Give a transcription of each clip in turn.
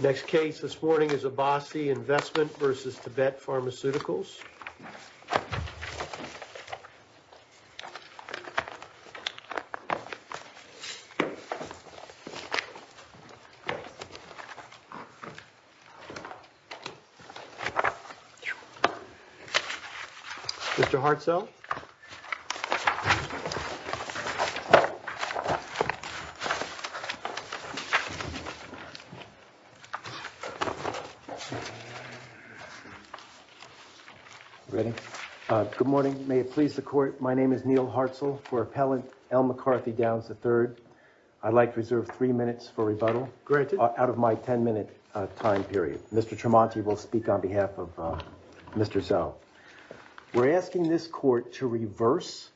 Next case this morning is Abasi Investment v. Tibet Pharmaceuticals. Mr. Hartzell. Good morning. May it please the court. My name is Neal Hartzell. For Appellant L. McCarthy Downs III. I'd like to reserve three minutes for rebuttal out of my ten minute time period. Mr. Tremonti will speak on behalf of Mr. Zell. We're asking this court to reverse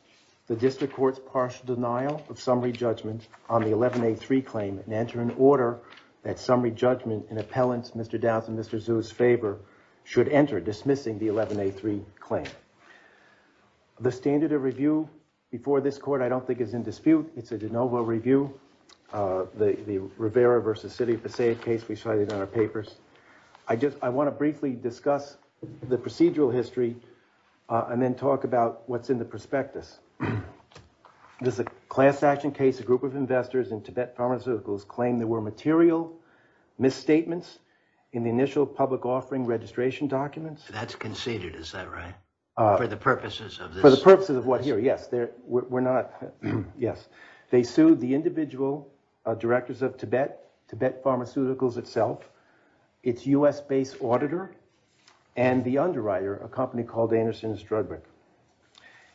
the District Court's partial denial of summary judgment on the 11A3 claim and enter an order that summary judgment in Appellant's Mr. Downs and Mr. Zell's favor should enter dismissing the 11A3 claim. The standard of review before this court I don't think is in dispute. It's a de novo review. The Rivera v. City of Passaic case we cited in our papers. I just I want to briefly discuss the procedural history and then talk about what's in the prospectus. There's a class action case. A group of investors in Tibet Pharmaceuticals claim there were material misstatements in the initial public offering registration documents. That's conceded. Is that right? For the purposes of the purposes of what here? Yes. We're not. Yes. They sued the individual directors of Tibet Pharmaceuticals itself, its U.S. based auditor, and the underwriter, a company called Anderson & Strudwick,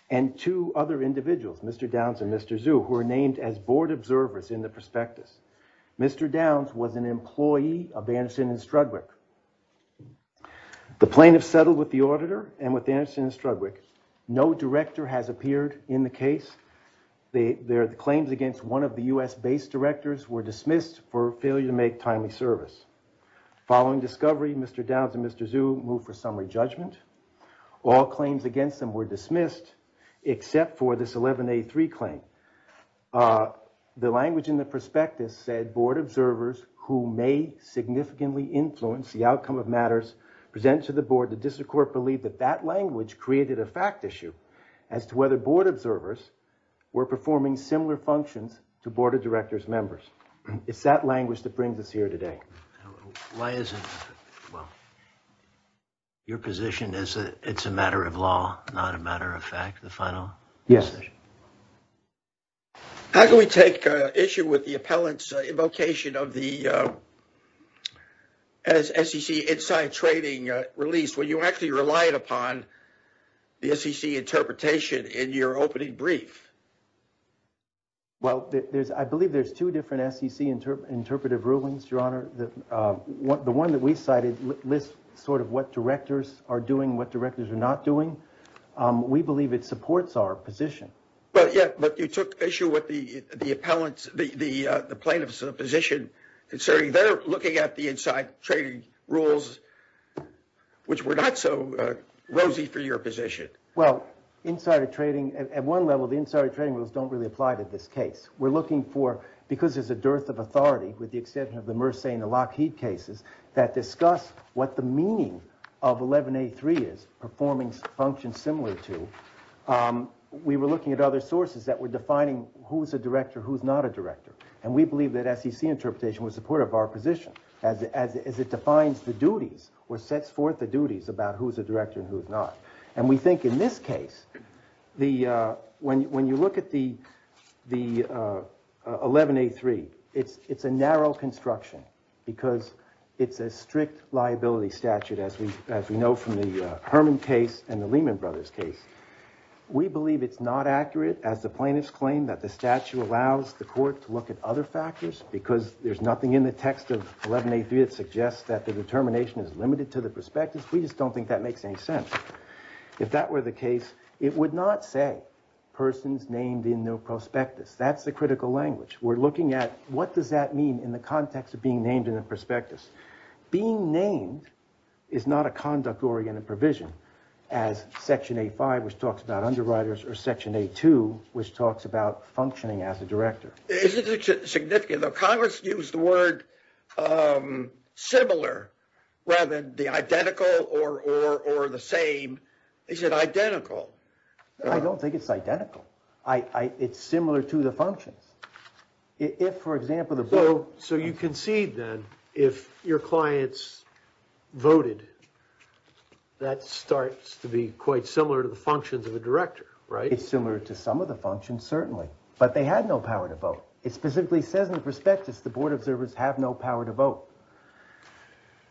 and two other individuals, Mr. Downs and Mr. Zhu, who are named as board observers in the prospectus. Mr. Downs was an employee of Anderson & Strudwick. The plaintiff settled with the auditor and with Anderson & Strudwick. No director has appeared in the case. Their claims against one of the U.S. based directors were dismissed for failure to make timely service. Following discovery, Mr. Downs and Mr. Zhu moved for summary judgment. All claims against them were dismissed except for this 11A3 claim. The language in the prospectus said board observers who may significantly influence the outcome of matters present to the board. The district court believed that that language created a fact issue as to whether board observers were performing similar functions to board of directors members. It's that language that brings us here today. Why is it? Well, your position is that it's a matter of law, not a matter of fact. The final. Yes. How can we take issue with the appellant's invocation of the SEC inside trading release when you actually relied upon the SEC interpretation in your opening brief? Well, I believe there's two different SEC interpretive rulings, Your Honor. The one that we cited lists sort of what directors are doing, what directors are not doing. We believe it supports our position. But you took issue with the plaintiff's position considering they're looking at the inside trading rules, which were not so rosy for your position. Well, inside trading at one level, the inside trading rules don't really apply to this case. We're looking for because there's a dearth of authority with the exception of the Merseyne and Lockheed cases that discuss what the meaning of 11A3 is performing functions similar to. We were looking at other sources that were defining who's a director, who's not a director. And we believe that SEC interpretation was supportive of our position as it defines the duties or sets forth the duties about who's a director and who's not. And we think in this case, when you look at the 11A3, it's a narrow construction because it's a strict liability statute as we know from the Herman case and the Lehman Brothers case. We believe it's not accurate as the plaintiffs claim that the statute allows the court to look at other factors because there's nothing in the text of 11A3 that suggests that the determination is limited to the prospectus. We just don't think that makes any sense. If that were the case, it would not say persons named in their prospectus. That's the critical language. We're looking at what does that mean in the context of being named in the prospectus. Being named is not a conduct-oriented provision as Section A5, which talks about underwriters, or Section A2, which talks about functioning as a director. Isn't it significant that Congress used the word similar rather than the identical or the same? Is it identical? I don't think it's identical. It's similar to the functions. If, for example, the. So you concede then if your clients voted, that starts to be quite similar to the functions of a director, right? It's very similar to some of the functions, certainly, but they had no power to vote. It specifically says in the prospectus the board observers have no power to vote.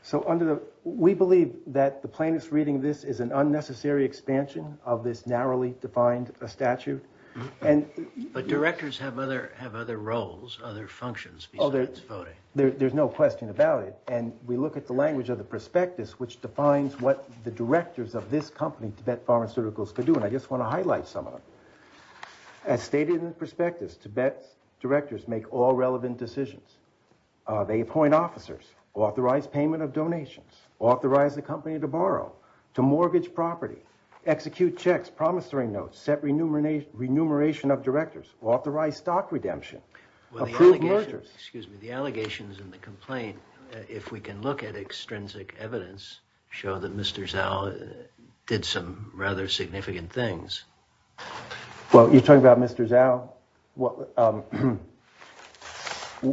So we believe that the plaintiff's reading of this is an unnecessary expansion of this narrowly defined statute. But directors have other roles, other functions besides voting. There's no question about it. And we look at the language of the prospectus, which defines what the directors of this company, Tibet Pharmaceuticals, could do. And I just want to highlight some of them. As stated in the prospectus, Tibet's directors make all relevant decisions. They appoint officers, authorize payment of donations, authorize the company to borrow, to mortgage property, execute checks, promissory notes, set remuneration of directors, authorize stock redemption, approve mergers. Excuse me. The allegations in the complaint, if we can look at extrinsic evidence, show that Mr. Zhao did some rather significant things. Well, you're talking about Mr. Zhao.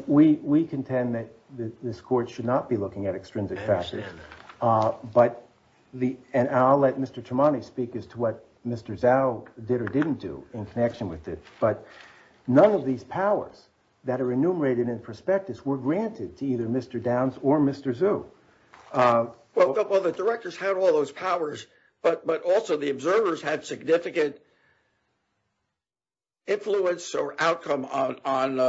We contend that this court should not be looking at extrinsic facts. But the and I'll let Mr. Tremont speak as to what Mr. Zhao did or didn't do in connection with it. But none of these powers that are enumerated in prospectus were granted to either Mr. Downs or Mr. Zhu. Well, the directors had all those powers, but but also the observers had significant. Influence or outcome on.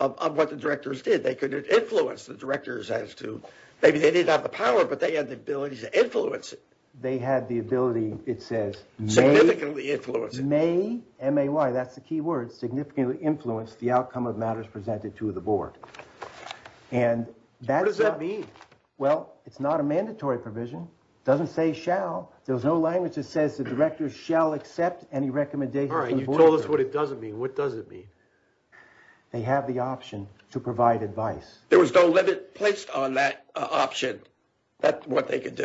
Of what the directors did, they could influence the directors as to maybe they didn't have the power, but they had the ability to influence. They had the ability, it says, may significantly influence the outcome of matters presented to the board. And that's what does that mean? Well, it's not a mandatory provision. Doesn't say shall. There's no language that says the directors shall accept any recommendations. All right. You told us what it doesn't mean. What does it mean? They have the option to provide advice. There was no limit placed on that option. That's what they could do.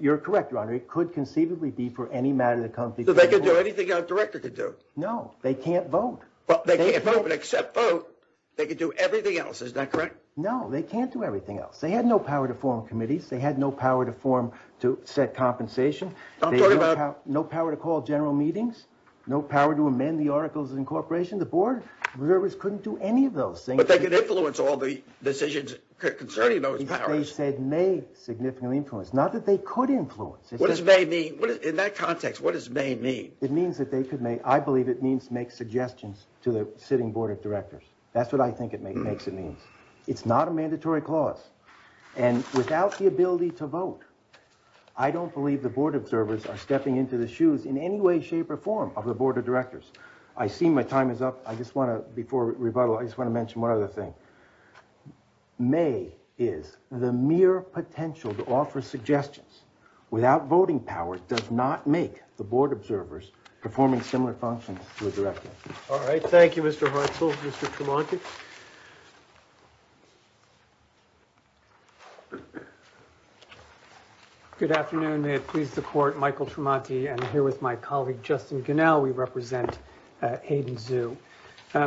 You're correct. It could conceivably be for any matter of the country. They could do anything a director could do. No, they can't vote. But they can't vote and accept vote. They could do everything else. Is that correct? No, they can't do everything else. They had no power to form committees. They had no power to form to set compensation. I'm talking about no power to call general meetings, no power to amend the articles of incorporation. The board members couldn't do any of those things, but they could influence all the decisions concerning those powers. They said may significantly influence. Not that they could influence. What does they mean in that context? What does they mean? It means that they could make. I believe it means make suggestions to the sitting board of directors. That's what I think it makes. It means it's not a mandatory clause. And without the ability to vote, I don't believe the board observers are stepping into the shoes in any way, shape or form of the board of directors. I see my time is up. I just want to before rebuttal, I just want to mention one other thing. May is the mere potential to offer suggestions without voting power does not make the board observers performing similar functions to a director. All right. Thank you, Mr. Russell. Mr. Tremonti. Good afternoon. May it please the court. Michael Tremonti. And here with my colleague, Justin, you know, we represent Hayden Zoo. The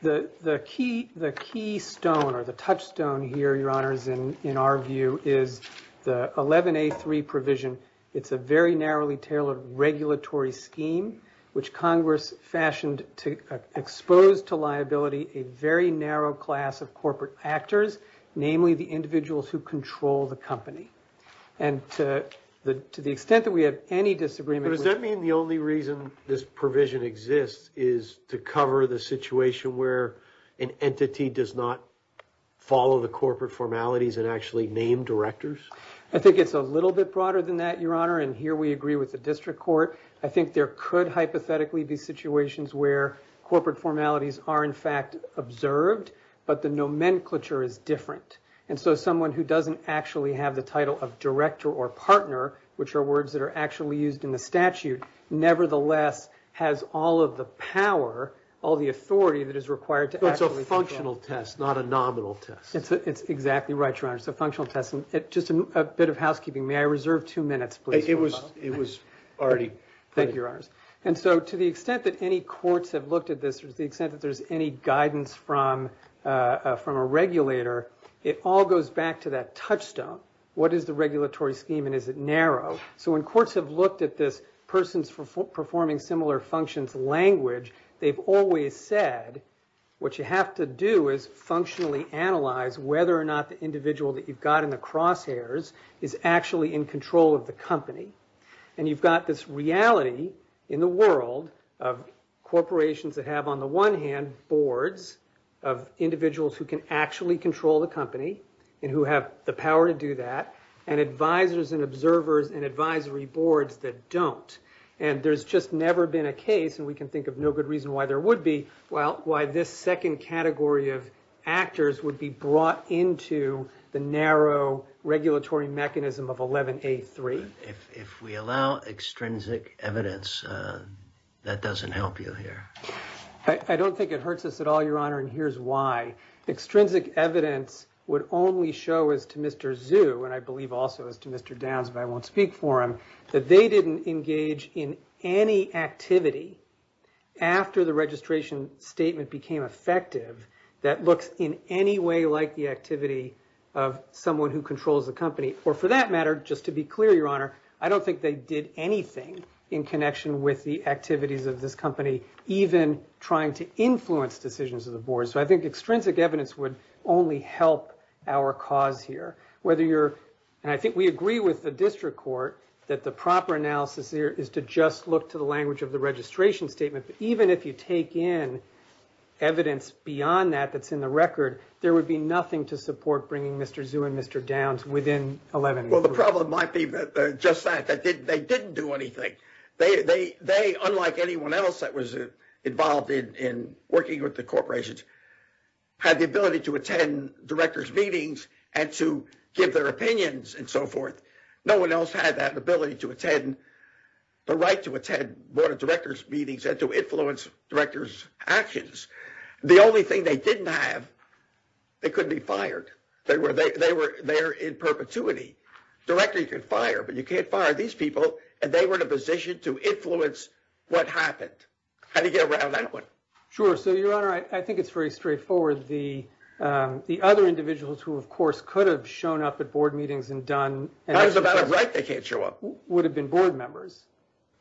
the key the key stone or the touchstone here, your honors. And in our view is the eleven eight three provision. It's a very narrowly tailored regulatory scheme which Congress fashioned to expose to liability a very narrow class of corporate actors, namely the individuals who control the company. And to the to the extent that we have any disagreement, does that mean the only reason this provision exists is to cover the situation where an entity does not follow the corporate formalities and actually name directors? I think it's a little bit broader than that, your honor. And here we agree with the district court. I think there could hypothetically be situations where corporate formalities are, in fact, observed. But the nomenclature is different. And so someone who doesn't actually have the title of director or partner, which are words that are actually used in the statute, nevertheless, has all of the power, all the authority that is required. It's a functional test, not a nominal test. It's exactly right. Just a bit of housekeeping. May I reserve two minutes, please? It was it was already. Thank you, your honors. And so to the extent that any courts have looked at this, the extent that there's any guidance from from a regulator, it all goes back to that touchstone. What is the regulatory scheme and is it narrow? So when courts have looked at this person's performing similar functions language, they've always said, what you have to do is functionally analyze whether or not the individual that you've got in the crosshairs is actually in control of the company. And you've got this reality in the world of corporations that have, on the one hand, boards of individuals who can actually control the company and who have the power to do that and advisers and observers and advisory boards that don't. And there's just never been a case. And we can think of no good reason why there would be. Well, why this second category of actors would be brought into the narrow regulatory mechanism of 1183. If we allow extrinsic evidence, that doesn't help you here. I don't think it hurts us at all, your honor. And here's why. Extrinsic evidence would only show as to Mr. Zoo, and I believe also as to Mr. Downs, if I won't speak for him, that they didn't engage in any activity after the registration statement became effective. That looks in any way like the activity of someone who controls the company or for that matter, just to be clear, your honor. I don't think they did anything in connection with the activities of this company, even trying to influence decisions of the board. So I think extrinsic evidence would only help our cause here, whether you're. And I think we agree with the district court that the proper analysis here is to just look to the language of the registration statement. Even if you take in evidence beyond that that's in the record, there would be nothing to support bringing Mr. Zoo and Mr. Downs within 11. Well, the problem might be just that they didn't do anything. They they they unlike anyone else that was involved in in working with the corporations had the ability to attend directors meetings and to give their opinions and so forth. No one else had that ability to attend the right to attend board of directors meetings and to influence directors actions. The only thing they didn't have, they couldn't be fired. They were they were there in perpetuity. Director, you can fire, but you can't fire these people. And they were in a position to influence what happened. How do you get around that one? Sure. So, your honor, I think it's very straightforward. The the other individuals who, of course, could have shown up at board meetings and done. And that's about right. They can't show up. Would have been board members.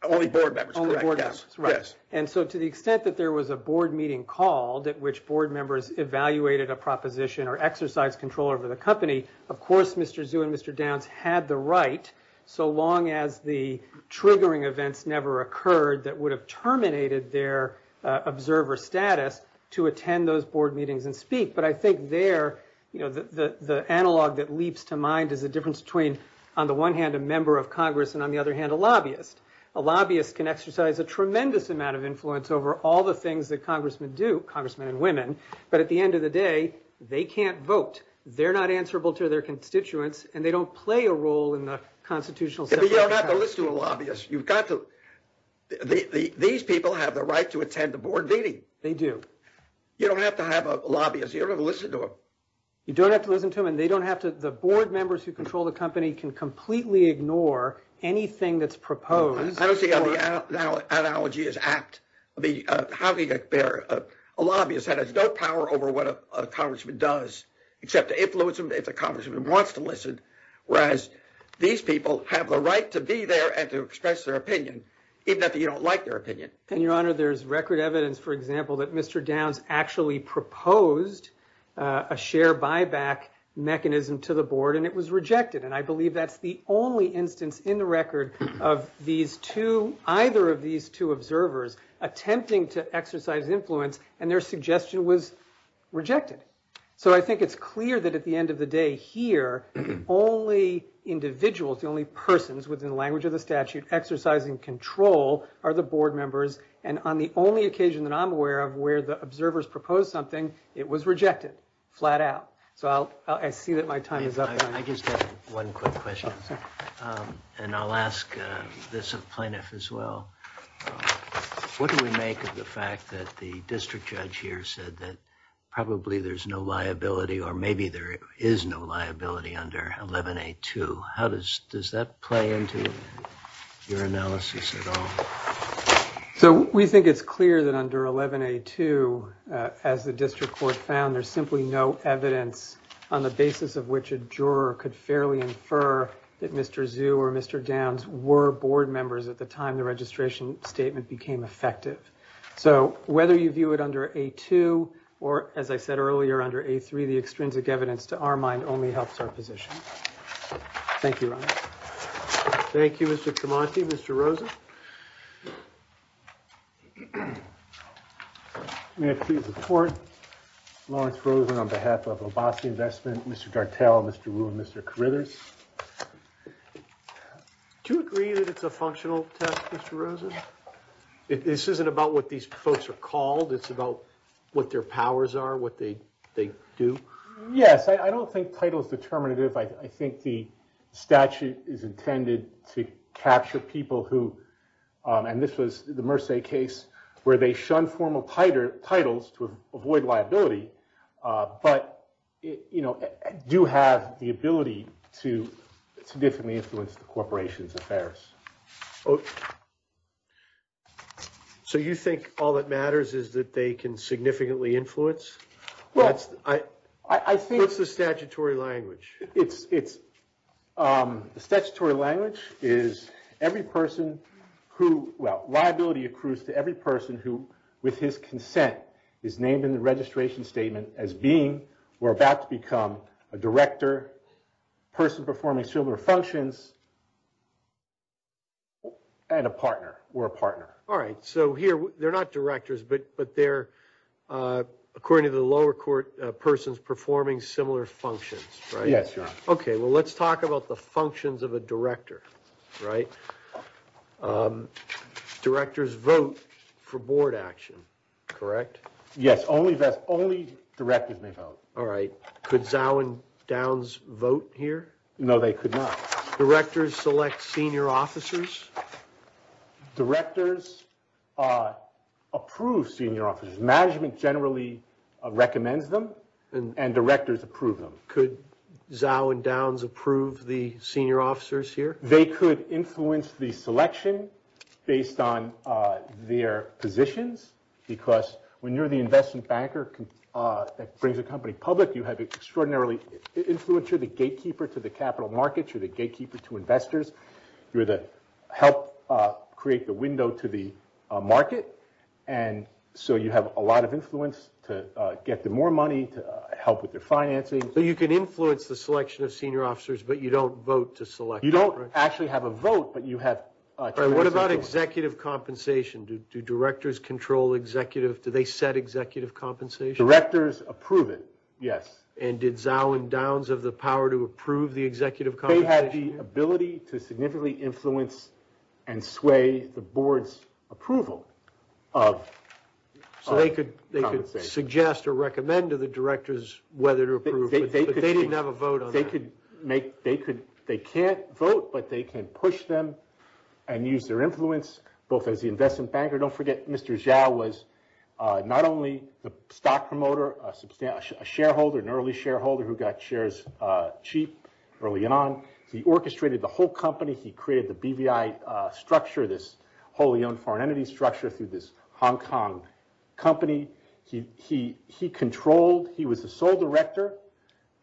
Only board members. And so to the extent that there was a board meeting called at which board members evaluated a proposition or exercise control over the company. Of course, Mr. Zoo and Mr. Downs had the right. So long as the triggering events never occurred, that would have terminated their observer status to attend those board meetings and speak. But I think there, you know, the analog that leaps to mind is the difference between, on the one hand, a member of Congress and on the other hand, a lobbyist. A lobbyist can exercise a tremendous amount of influence over all the things that congressmen do, congressmen and women. But at the end of the day, they can't vote. They're not answerable to their constituents. And they don't play a role in the constitutional system. You don't have to listen to a lobbyist. You've got to. These people have the right to attend the board meeting. They do. You don't have to have a lobbyist. You don't have to listen to them. You don't have to listen to them. Again, they don't have to. The board members who control the company can completely ignore anything that's proposed. I don't see how the analogy is apt. Having a lobbyist that has no power over what a congressman does, except to influence him if the congressman wants to listen. Whereas these people have the right to be there and to express their opinion, even if you don't like their opinion. And your honor, there's record evidence, for example, that Mr. Downs actually proposed a share buyback mechanism to the board. And it was rejected. And I believe that's the only instance in the record of either of these two observers attempting to exercise influence. And their suggestion was rejected. So I think it's clear that at the end of the day here, the only individuals, the only persons within the language of the statute exercising control are the board members. And on the only occasion that I'm aware of where the observers proposed something, it was rejected. Flat out. So I see that my time is up. I just have one quick question. And I'll ask this of plaintiff as well. What do we make of the fact that the district judge here said that probably there's no liability or maybe there is no liability under 11A2? How does that play into your analysis at all? So we think it's clear that under 11A2, as the district court found, there's simply no evidence on the basis of which a juror could fairly infer that Mr. Zhu or Mr. Downs were board members at the time the registration statement became effective. So whether you view it under A2 or, as I said earlier, under A3, the extrinsic evidence to our mind only helps our position. Thank you. Thank you, Mr. Tremonti, Mr. Rosen. May I please report? Lawrence Rosen on behalf of Obasi Investment, Mr. Dartell, Mr. Wu, and Mr. Carruthers. Do you agree that it's a functional test, Mr. Rosen? This isn't about what these folks are called. It's about what their powers are, what they do. Yes, I don't think title is determinative. I think the statute is intended to capture people who, and this was the Merce case, where they shun formal titles to avoid liability, but do have the ability to significantly influence the corporation's affairs. So you think all that matters is that they can significantly influence? What's the statutory language? The statutory language is liability accrues to every person who, with his consent, is named in the registration statement as being or about to become a director, person performing similar functions, and a partner or a partner. All right, so here they're not directors, but they're, according to the lower court, persons performing similar functions, right? Yes. OK, well, let's talk about the functions of a director. Right. Directors vote for board action, correct? Yes. Only that only directors may vote. All right. Could Zao and Downs vote here? No, they could not. Directors select senior officers. Directors approve senior officers. Management generally recommends them, and directors approve them. Could Zao and Downs approve the senior officers here? They could influence the selection based on their positions, because when you're the investment banker that brings a company public, you have extraordinarily influence. You're the gatekeeper to the capital markets. You're the gatekeeper to investors. You're the help create the window to the market, and so you have a lot of influence to get them more money, to help with their financing. So you can influence the selection of senior officers, but you don't vote to select them, right? You don't actually have a vote, but you have... All right, what about executive compensation? Do directors control executive... do they set executive compensation? Directors approve it, yes. And did Zao and Downs have the power to approve the executive compensation? They had the ability to significantly influence and sway the board's approval of compensation. So they could suggest or recommend to the directors whether to approve, but they didn't have a vote on that? They can't vote, but they can push them and use their influence, both as the investment banker. Don't forget, Mr. Zao was not only the stock promoter, a shareholder, an early shareholder who got shares cheap early on. He orchestrated the whole company. He created the BVI structure, this wholly-owned foreign entity structure through this Hong Kong company. He controlled... he was the sole director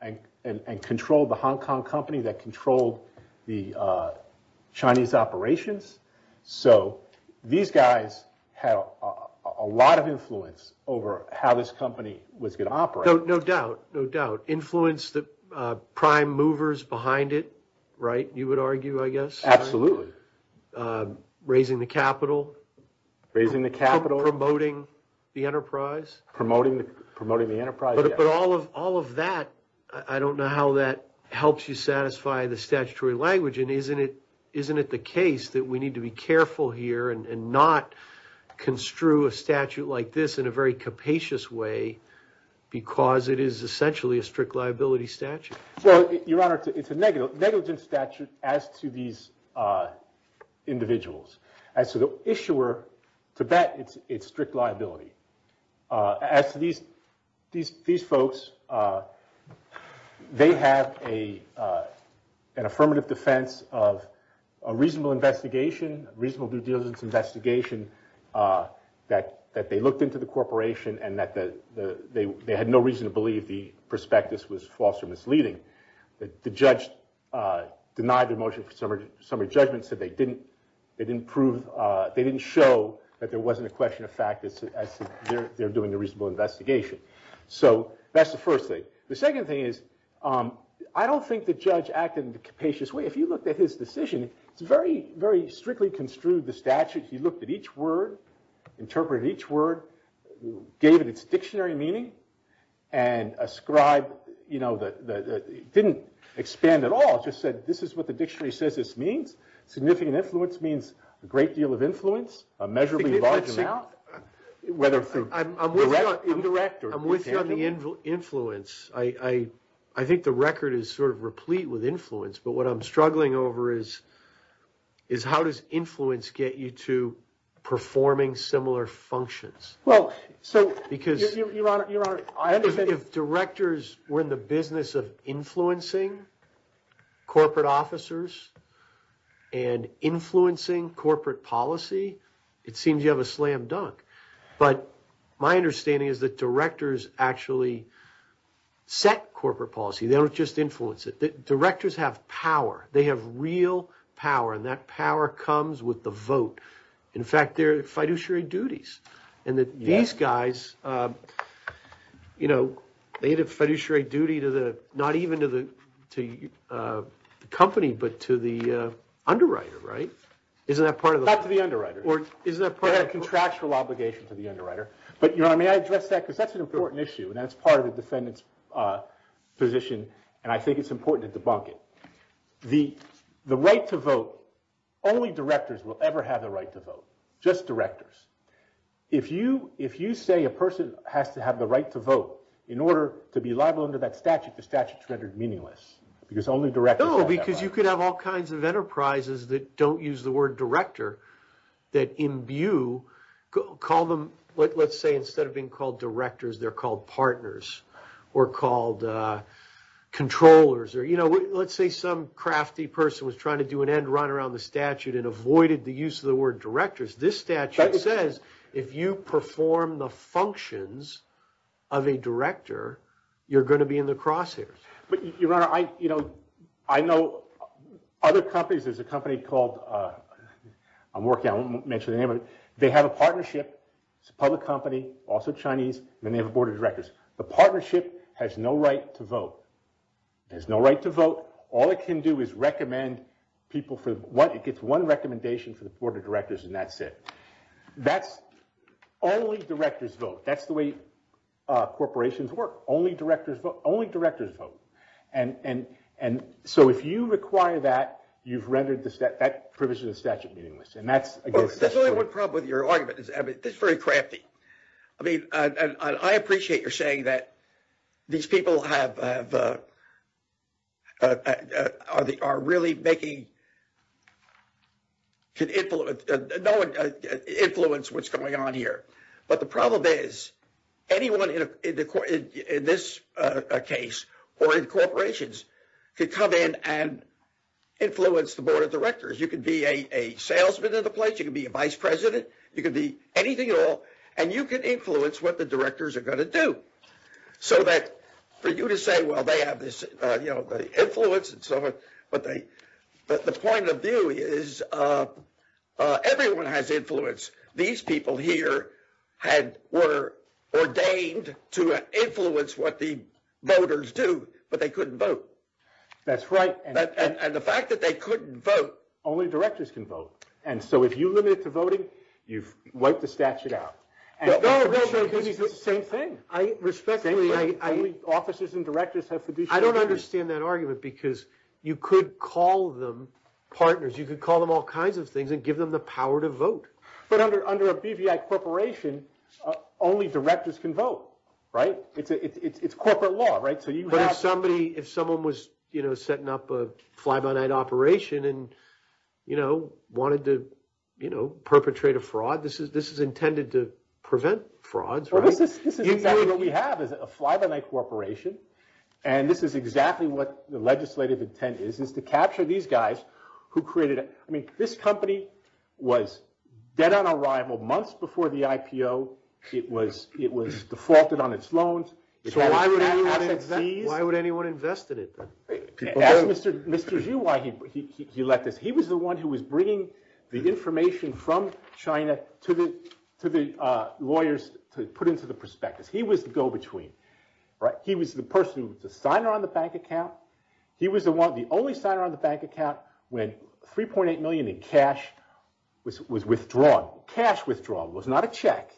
and controlled the Hong Kong company that controlled the Chinese operations. So these guys had a lot of influence over how this company was going to operate. No doubt, no doubt. Influence the prime movers behind it, right, you would argue, I guess? Absolutely. Raising the capital? Raising the capital. Promoting the enterprise? Promoting the enterprise, yes. But all of that, I don't know how that helps you satisfy the statutory language. And isn't it the case that we need to be careful here and not construe a statute like this in a very capacious way because it is essentially a strict liability statute? Well, Your Honor, it's a negligent statute as to these individuals. As to the issuer, to that, it's strict liability. As to these folks, they have an affirmative defense of a reasonable investigation, reasonable due diligence investigation that they looked into the corporation and that they had no reason to believe the prospectus was false or misleading. The judge denied the motion for summary judgment, said they didn't prove, they didn't show that there wasn't a question of fact as to their doing a reasonable investigation. So that's the first thing. The second thing is I don't think the judge acted in a capacious way. If you looked at his decision, it's very, very strictly construed, the statute. He looked at each word, interpreted each word, gave it its dictionary meaning, and ascribed, you know, it didn't expand at all. He just said this is what the dictionary says this means. Significant influence means a great deal of influence, a measurably large amount. I'm with you on the influence. I think the record is sort of replete with influence, but what I'm struggling over is how does influence get you to performing similar functions? Because if directors were in the business of influencing corporate officers and influencing corporate policy, it seems you have a slam dunk. But my understanding is that directors actually set corporate policy. They don't just influence it. Directors have power. They have real power, and that power comes with the vote. In fact, they're fiduciary duties, and that these guys, you know, they had a fiduciary duty to the, not even to the company, but to the underwriter, right? Isn't that part of the law? Not to the underwriter. Isn't that part of the law? They have a contractual obligation to the underwriter. But, you know what I mean, I address that because that's an important issue, and that's part of the defendant's position, and I think it's important to debunk it. The right to vote, only directors will ever have the right to vote. Just directors. If you say a person has to have the right to vote in order to be liable under that statute, the statute's rendered meaningless because only directors have that right. No, because you could have all kinds of enterprises that don't use the word director that imbue, call them, let's say instead of being called directors, they're called partners or called controllers. Or, you know, let's say some crafty person was trying to do an end run around the statute and avoided the use of the word directors. This statute says if you perform the functions of a director, you're going to be in the crosshairs. But, Your Honor, I, you know, I know other companies. There's a company called, I'm working on it, I won't mention the name of it. They have a partnership. It's a public company, also Chinese, and they have a board of directors. The partnership has no right to vote. It has no right to vote. All it can do is recommend people for what it gets one recommendation for the board of directors, and that's it. That's only directors vote. That's the way corporations work. Only directors vote. Only directors vote. And so if you require that, you've rendered that provision of the statute meaningless, and that's against the statute. That's the only one problem with your argument. This is very crafty. I mean, I appreciate your saying that these people have, are really making, can influence what's going on here. But the problem is anyone in this case or in corporations could come in and influence the board of directors. You could be a salesman in the place. You could be a vice president. You could be anything at all. And you could influence what the directors are going to do. So that for you to say, well, they have this, you know, the influence and so forth, but the point of view is everyone has influence. These people here were ordained to influence what the voters do, but they couldn't vote. That's right. And the fact that they couldn't vote, only directors can vote. And so if you limit it to voting, you've wiped the statute out. No, no, no. It's the same thing. Respectfully, only officers and directors have fiduciary authority. I don't understand that argument because you could call them partners. You could call them all kinds of things and give them the power to vote. But under a BVI corporation, only directors can vote, right? It's corporate law, right? But if someone was, you know, setting up a fly-by-night operation and, you know, wanted to, you know, perpetrate a fraud, this is intended to prevent frauds, right? This is exactly what we have is a fly-by-night corporation, and this is exactly what the legislative intent is, is to capture these guys who created it. I mean, this company was dead on arrival months before the IPO. It was defaulted on its loans. So why would anyone invest in it? Ask Mr. Xu why he let this. He was the one who was bringing the information from China to the lawyers to put into the prospectus. He was the go-between, right? He was the person who was the signer on the bank account. He was the only signer on the bank account when $3.8 million in cash was withdrawn. Cash withdrawal was not a check.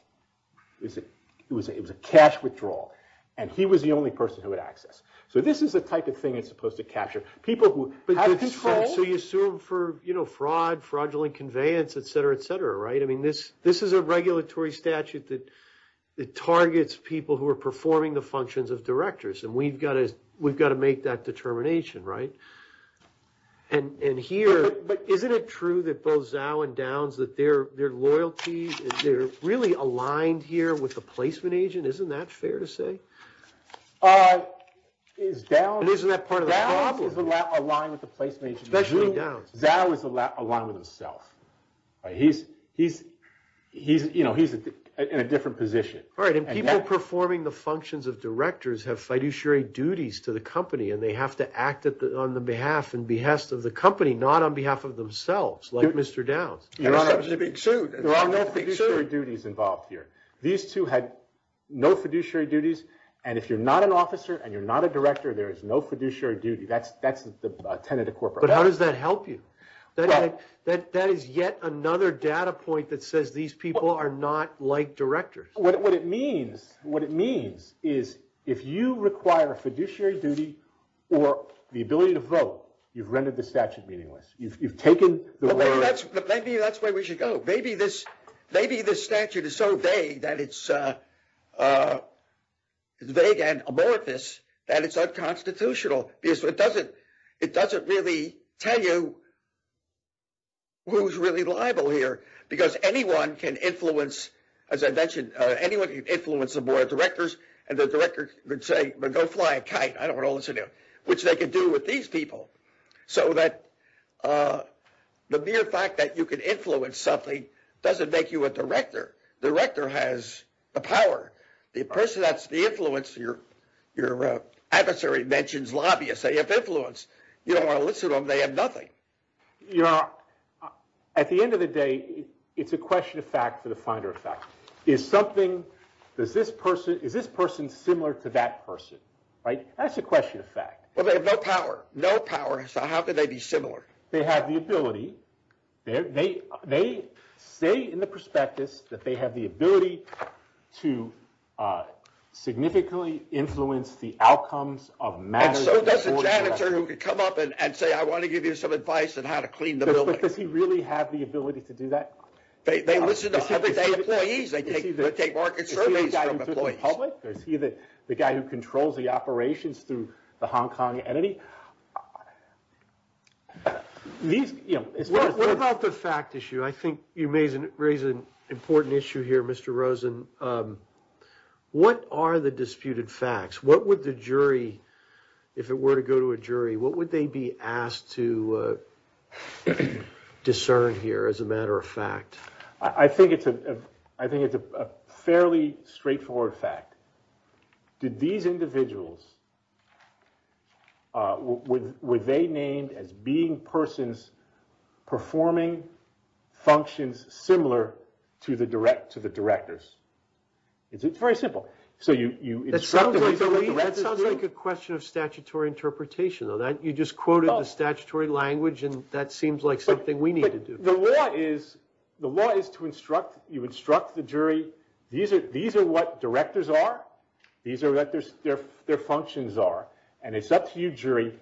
It was a cash withdrawal. And he was the only person who had access. So this is the type of thing it's supposed to capture. People who have control. So you assume for, you know, fraud, fraudulent conveyance, et cetera, et cetera, right? I mean, this is a regulatory statute that targets people who are performing the functions of directors, and we've got to make that determination, right? And here, but isn't it true that both Zhou and Downs, that their loyalty is really aligned here with the placement agent? Isn't that fair to say? Isn't that part of the problem? Downs is aligned with the placement agent. Especially Downs. Zhou is aligned with himself. He's, you know, he's in a different position. All right, and people performing the functions of directors have fiduciary duties to the company, and they have to act on the behalf and behest of the company, not on behalf of themselves, like Mr. Downs. That's a big suit. There are no fiduciary duties involved here. These two had no fiduciary duties, and if you're not an officer and you're not a director, there is no fiduciary duty. That's the tenet of corporate law. But how does that help you? That is yet another data point that says these people are not like directors. What it means is if you require a fiduciary duty or the ability to vote, you've rendered the statute meaningless. You've taken the words. Maybe that's where we should go. Maybe this statute is so vague and amorphous that it's unconstitutional because it doesn't really tell you who's really liable here because anyone can influence, as I mentioned, anyone can influence the board of directors, and the director could say, well, go fly a kite. I don't want to listen to you, which they could do with these people. So the mere fact that you can influence something doesn't make you a director. The director has the power. The person that's the influence, your adversary mentions lobbyists. They have influence. You don't want to listen to them. They have nothing. At the end of the day, it's a question of fact for the finder of fact. Is this person similar to that person? That's a question of fact. Well, they have no power. No power, so how could they be similar? They have the ability. They say in the prospectus that they have the ability to significantly influence the outcomes of matters of the board of directors. And so does the janitor who could come up and say, I want to give you some advice on how to clean the building. But does he really have the ability to do that? They listen to other employees. They take market surveys from employees. Is he the guy who controls the operations through the Hong Kong entity? What about the fact issue? I think you raise an important issue here, Mr. Rosen. What are the disputed facts? What would the jury, if it were to go to a jury, what would they be asked to discern here as a matter of fact? I think it's a fairly straightforward fact. Did these individuals, were they named as being persons performing functions similar to the directors? It's very simple. That sounds like a question of statutory interpretation. You just quoted the statutory language, and that seems like something we need to do. The law is to instruct, you instruct the jury, these are what directors are. These are what their functions are. And it's up to you, jury,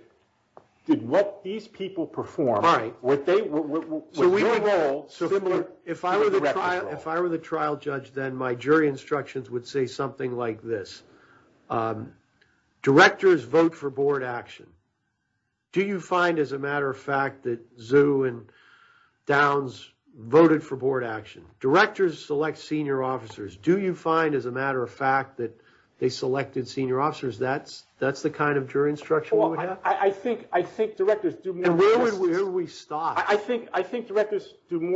to let these people perform. If I were the trial judge then, my jury instructions would say something like this. Directors vote for board action. Do you find, as a matter of fact, that Zhu and Downs voted for board action? Directors select senior officers. Do you find, as a matter of fact, that they selected senior officers? That's the kind of jury instruction you would have? I think directors do more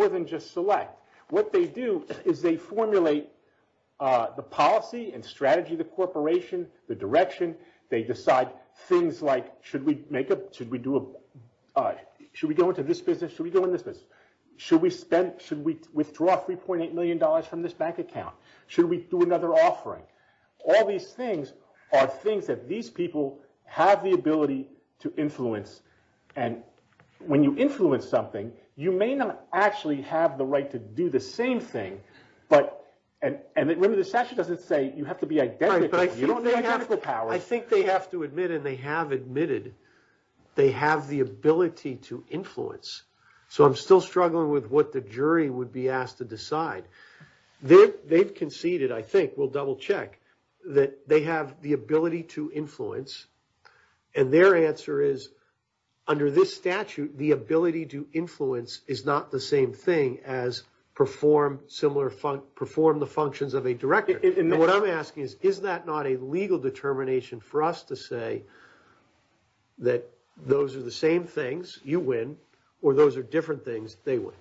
than just select. What they do is they formulate the policy and strategy of the corporation, the direction. They decide things like, should we go into this business, should we go into this business? Should we withdraw $3.8 million from this bank account? Should we do another offering? All these things are things that these people have the ability to influence. When you influence something, you may not actually have the right to do the same thing. Remember, the statute doesn't say you have to be identical. I think they have to admit, and they have admitted, they have the ability to influence. So I'm still struggling with what the jury would be asked to decide. They've conceded, I think, we'll double check, that they have the ability to influence, and their answer is, under this statute, the ability to influence is not the same thing as perform the functions of a director. What I'm asking is, is that not a legal determination for us to say that those are the same things, you win, or those are different things, they win?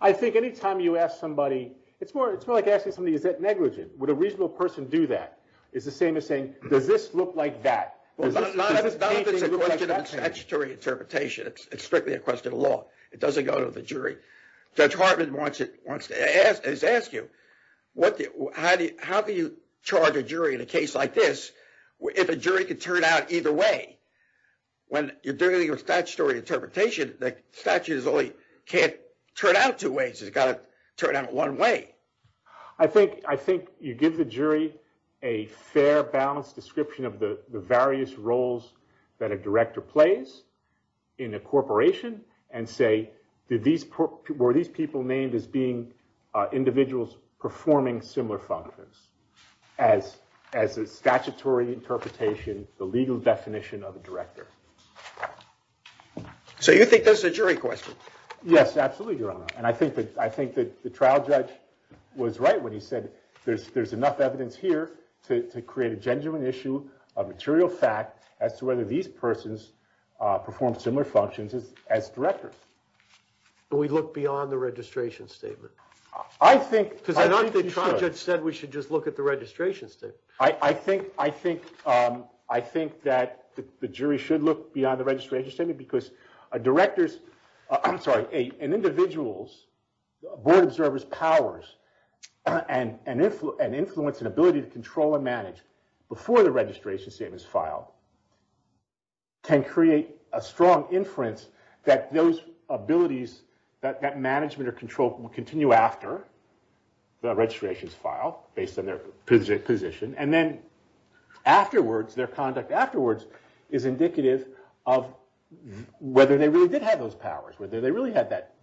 I think any time you ask somebody, it's more like asking somebody, is that negligent? Would a reasonable person do that? It's the same as saying, does this look like that? Not if it's a question of statutory interpretation. It's strictly a question of law. It doesn't go to the jury. Judge Hartman wants to ask you, how do you charge a jury in a case like this if a jury can turn out either way? When you're doing a statutory interpretation, the statute can't turn out two ways, it's got to turn out one way. I think you give the jury a fair, balanced description of the various roles that a director plays in a corporation, and say, were these people named as being individuals performing similar functions? As a statutory interpretation, the legal definition of a director. So you think this is a jury question? Yes, absolutely, Your Honor. I think that the trial judge was right when he said there's enough evidence here to create a genuine issue of material fact as to whether these persons perform similar functions as directors. Do we look beyond the registration statement? I think we should. The trial judge said we should just look at the registration statement. I think that the jury should look beyond the registration statement because a director's, I'm sorry, an individual's board observer's powers and influence and ability to control and manage before the registration statement is filed can create a strong inference that those abilities, that management or control will continue after the registration is filed based on their position. And then afterwards, their conduct afterwards is indicative of whether they really did have those powers, whether they really had that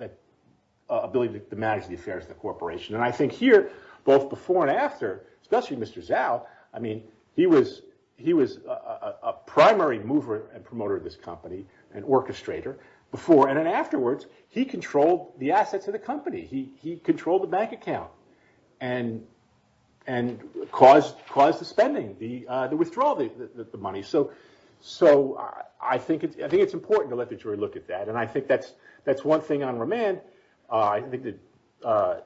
ability to manage the affairs of the corporation. And I think here, both before and after, especially Mr. Zhao, I mean, he was a primary mover and promoter of this company, an orchestrator, before and afterwards, he controlled the assets of the company. He controlled the bank account and caused the spending, the withdrawal of the money. So I think it's important to let the jury look at that. And I think that's one thing on remand. I think the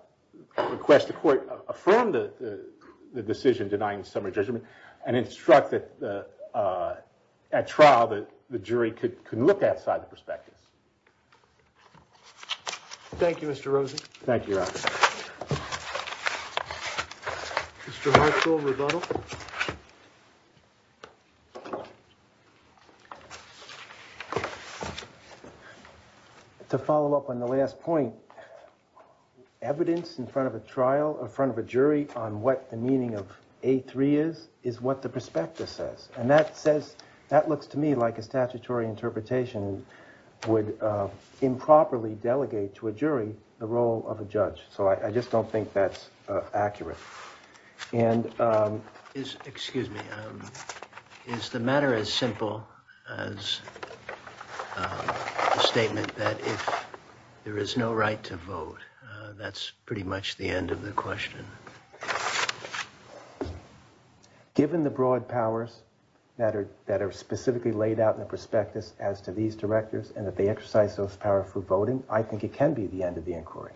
request to court affirmed the decision denying summary judgment and instructed at trial that the jury could look at that side of the perspective. Thank you, Mr. Rosen. Thank you, Your Honor. Mr. Herschel, rebuttal. To follow up on the last point, evidence in front of a trial, in front of a jury, on what the meaning of A3 is, is what the prospectus says. And that looks to me like a statutory interpretation would improperly delegate to a jury the role of a judge. So I just don't think that's accurate. Excuse me. Is the matter as simple as the statement that if there is no right to vote, that's pretty much the end of the question? Given the broad powers that are specifically laid out in the prospectus as to these directors and that they exercise those power for voting, I think it can be the end of the inquiry.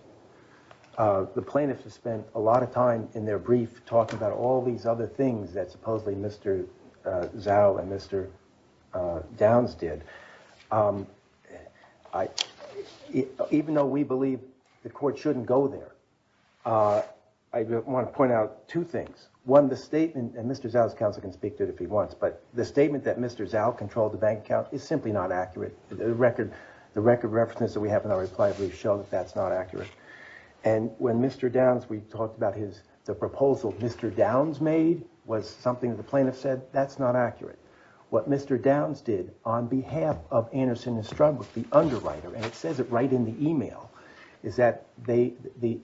The plaintiffs have spent a lot of time in their brief talking about all these other things that supposedly Mr. Zhou and Mr. Downs did. Even though we believe the court shouldn't go there, I want to point out two things. One, the statement, and Mr. Zhou's counsel can speak to it if he wants, but the statement that Mr. Zhou controlled the bank account is simply not accurate. The record reference that we have in our reply brief shows that that's not accurate. And when Mr. Downs, we talked about the proposal Mr. Downs made was something that the plaintiffs said, that's not accurate. What Mr. Downs did on behalf of Anderson & Struggles, the underwriter, and it says it right in the email, is that the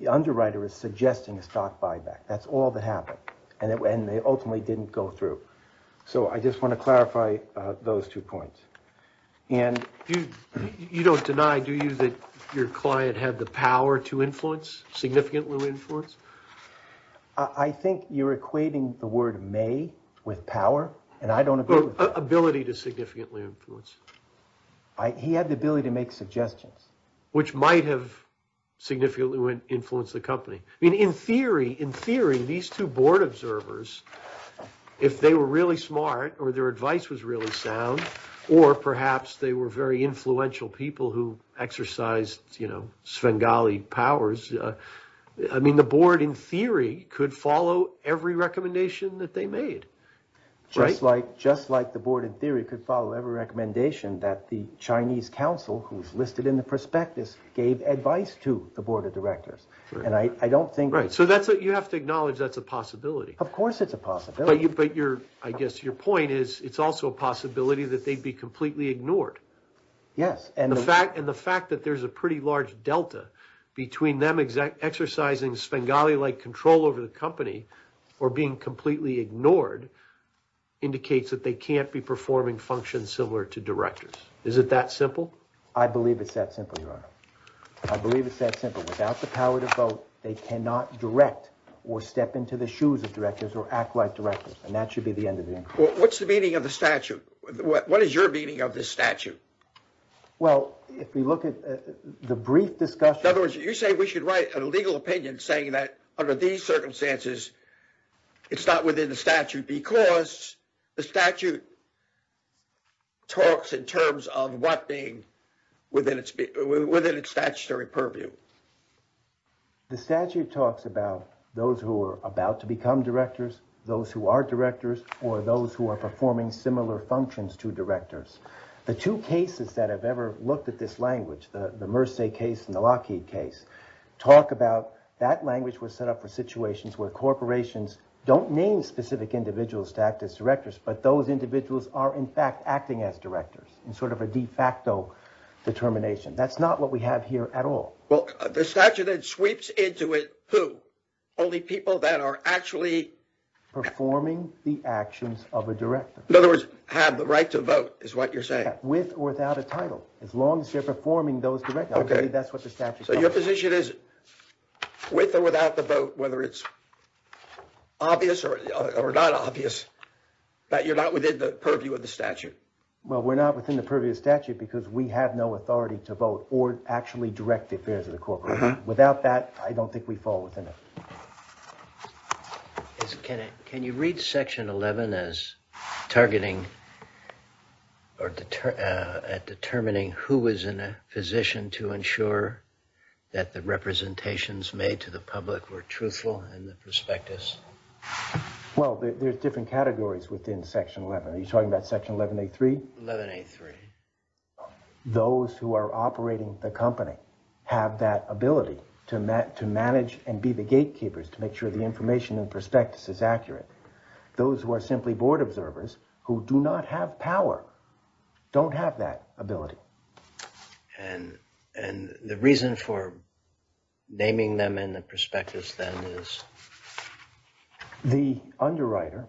underwriter is suggesting a stock buyback. That's all that happened. And they ultimately didn't go through. So I just want to clarify those two points. You don't deny, do you, that your client had the power to influence, significantly influence? I think you're equating the word may with power, and I don't agree with that. Ability to significantly influence. He had the ability to make suggestions. Which might have significantly influenced the company. I mean, in theory, in theory, these two board observers, if they were really smart, or their advice was really sound, or perhaps they were very influential people who exercised, you know, Svengali powers, I mean, the board, in theory, could follow every recommendation that they made. Just like the board, in theory, could follow every recommendation that the Chinese council, who's listed in the prospectus, gave advice to the board of directors. And I don't think... Right, so you have to acknowledge that's a possibility. Of course it's a possibility. But I guess your point is, it's also a possibility that they'd be completely ignored. Yes. And the fact that there's a pretty large delta between them exercising Svengali-like control over the company or being completely ignored indicates that they can't be performing functions similar to directors. Is it that simple? I believe it's that simple, Your Honor. I believe it's that simple. Without the power to vote, they cannot direct or step into the shoes of directors or act like directors. And that should be the end of the inquiry. What's the meaning of the statute? What is your meaning of this statute? Well, if we look at the brief discussion... In other words, you're saying we should write a legal opinion saying that under these circumstances, it's not within the statute because the statute talks in terms of what being within its statutory purview. The statute talks about those who are about to become directors, those who are directors, or those who are performing similar functions to directors. The two cases that have ever looked at this language, the Merce case and the Lockheed case, talk about that language was set up for situations where corporations don't name specific individuals to act as directors, but those individuals are, in fact, acting as directors in sort of a de facto determination. That's not what we have here at all. Well, the statute then sweeps into it who? Only people that are actually... Performing the actions of a director. In other words, have the right to vote is what you're saying. With or without a title, as long as they're performing those... Okay. That's what the statute... So your position is, with or without the vote, whether it's obvious or not obvious, that you're not within the purview of the statute? Well, we're not within the purview of the statute because we have no authority to vote or actually direct the affairs of the corporation. Without that, I don't think we fall within it. Can you read Section 11 as targeting or determining who is in a position to ensure that the representations made to the public were truthful and the prospectus? Well, there's different categories within Section 11. Are you talking about Section 11A3? 11A3. Those who are operating the company have that ability to manage and be the gatekeepers to make sure the information and prospectus is accurate. Those who are simply board observers who do not have power don't have that ability. And the reason for naming them in the prospectus, then, is... The underwriter,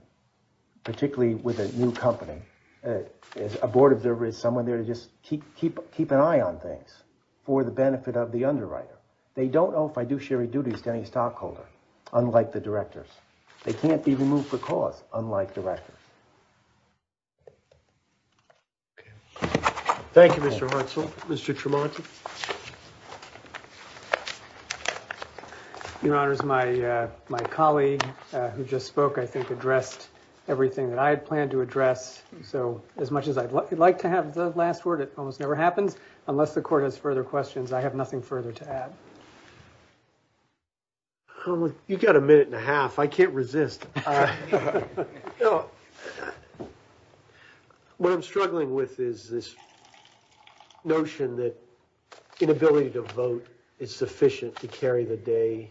particularly with a new company, a board observer is someone there to just keep an eye on things for the benefit of the underwriter. They don't know if I do sherry duties to any stockholder, unlike the directors. They can't be removed for cause, unlike directors. Thank you, Mr. Hartzell. Mr. Tremonti. Your Honours, my colleague who just spoke, I think, addressed everything that I had planned to address. So, as much as I'd like to have the last word, it almost never happens. Unless the Court has further questions, I have nothing further to add. You've got a minute and a half. I can't resist. What I'm struggling with is this notion that inability to vote is sufficient to carry the day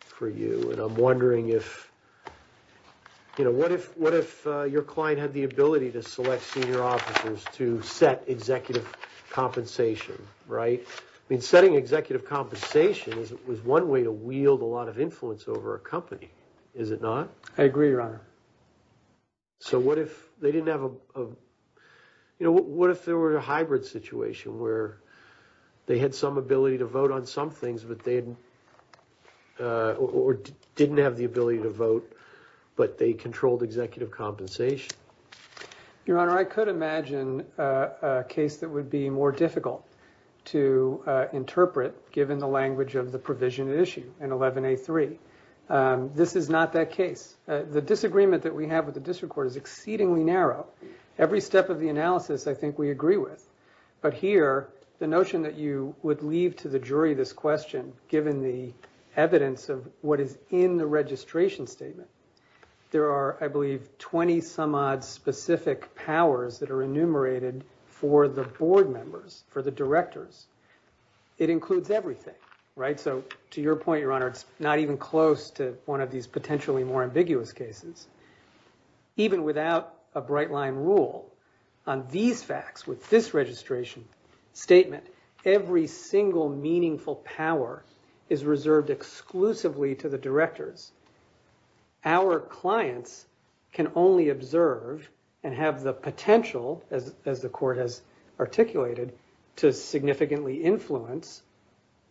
for you. And I'm wondering if... What if your client had the ability to select senior officers to set executive compensation, right? I mean, setting executive compensation was one way to wield a lot of influence over a company, is it not? I agree, Your Honour. So, what if they didn't have a... You know, what if there were a hybrid situation where they had some ability to vote on some things, but they didn't have the ability to vote, but they controlled executive compensation? Your Honour, I could imagine a case that would be more difficult to interpret, given the language of the provision at issue in 11A3. This is not that case. The disagreement that we have with the District Court is exceedingly narrow. Every step of the analysis, I think, we agree with. But here, the notion that you would leave to the jury this question, given the evidence of what is in the registration statement, there are, I believe, 20-some-odd specific powers that are enumerated for the board members, for the directors. It includes everything, right? So, to your point, Your Honour, it's not even close to one of these potentially more ambiguous cases. Even without a bright-line rule, on these facts, with this registration statement, every single meaningful power is reserved exclusively to the directors. Our clients can only observe and have the potential, as the Court has articulated, to significantly influence,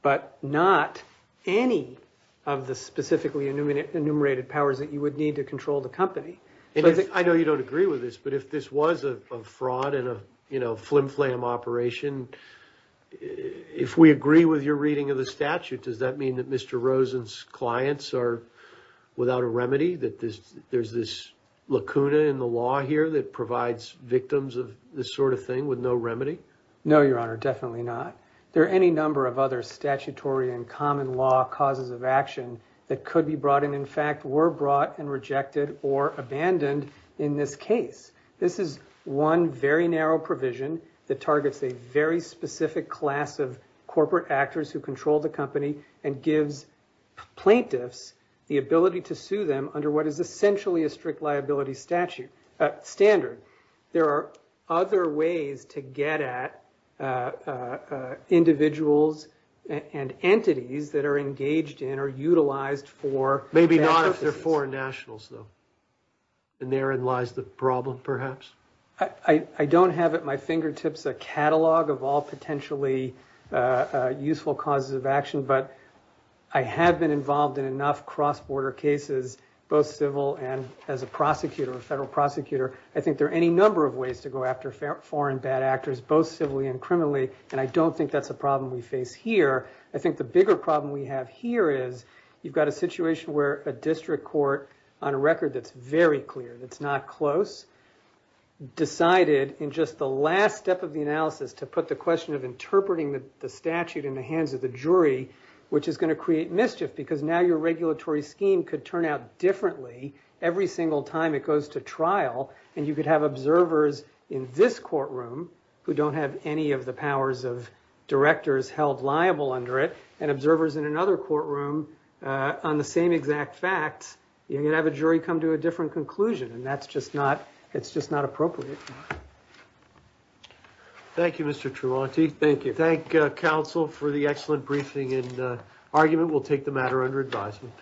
but not any of the specifically enumerated powers that you would need to control the company. I know you don't agree with this, but if this was a fraud and a flim-flam operation, if we agree with your reading of the statute, does that mean that Mr. Rosen's clients are without a remedy? That there's this lacuna in the law here that provides victims of this sort of thing with no remedy? No, Your Honour, definitely not. There are any number of other statutory and common-law causes of action that could be brought and, in fact, were brought and rejected or abandoned in this case. This is one very narrow provision that targets a very specific class of corporate actors who control the company and gives plaintiffs the ability to sue them under what is essentially a strict liability standard. There are other ways to get at individuals and entities that are engaged in or utilized for that purpose. Maybe not if they're foreign nationals, though. And therein lies the problem, perhaps. I don't have at my fingertips a catalogue of all potentially useful causes of action, but I have been involved in enough cross-border cases, both civil and as a prosecutor, a federal prosecutor. I think there are any number of ways to go after foreign bad actors, both civilly and criminally, and I don't think that's a problem we face here. I think the bigger problem we have here is you've got a situation where a district court, on a record that's very clear, that's not close, decided in just the last step of the analysis to put the question of interpreting the statute in the hands of the jury, which is going to create mischief because now your regulatory scheme could turn out differently every single time it goes to trial, and you could have observers in this courtroom who don't have any of the powers of directors held liable under it, and observers in another courtroom on the same exact facts. You're going to have a jury come to a different conclusion, and that's just not appropriate. Thank you, Mr. Tremonti. Thank you. Thank counsel for the excellent briefing and argument. We'll take the matter under advisement.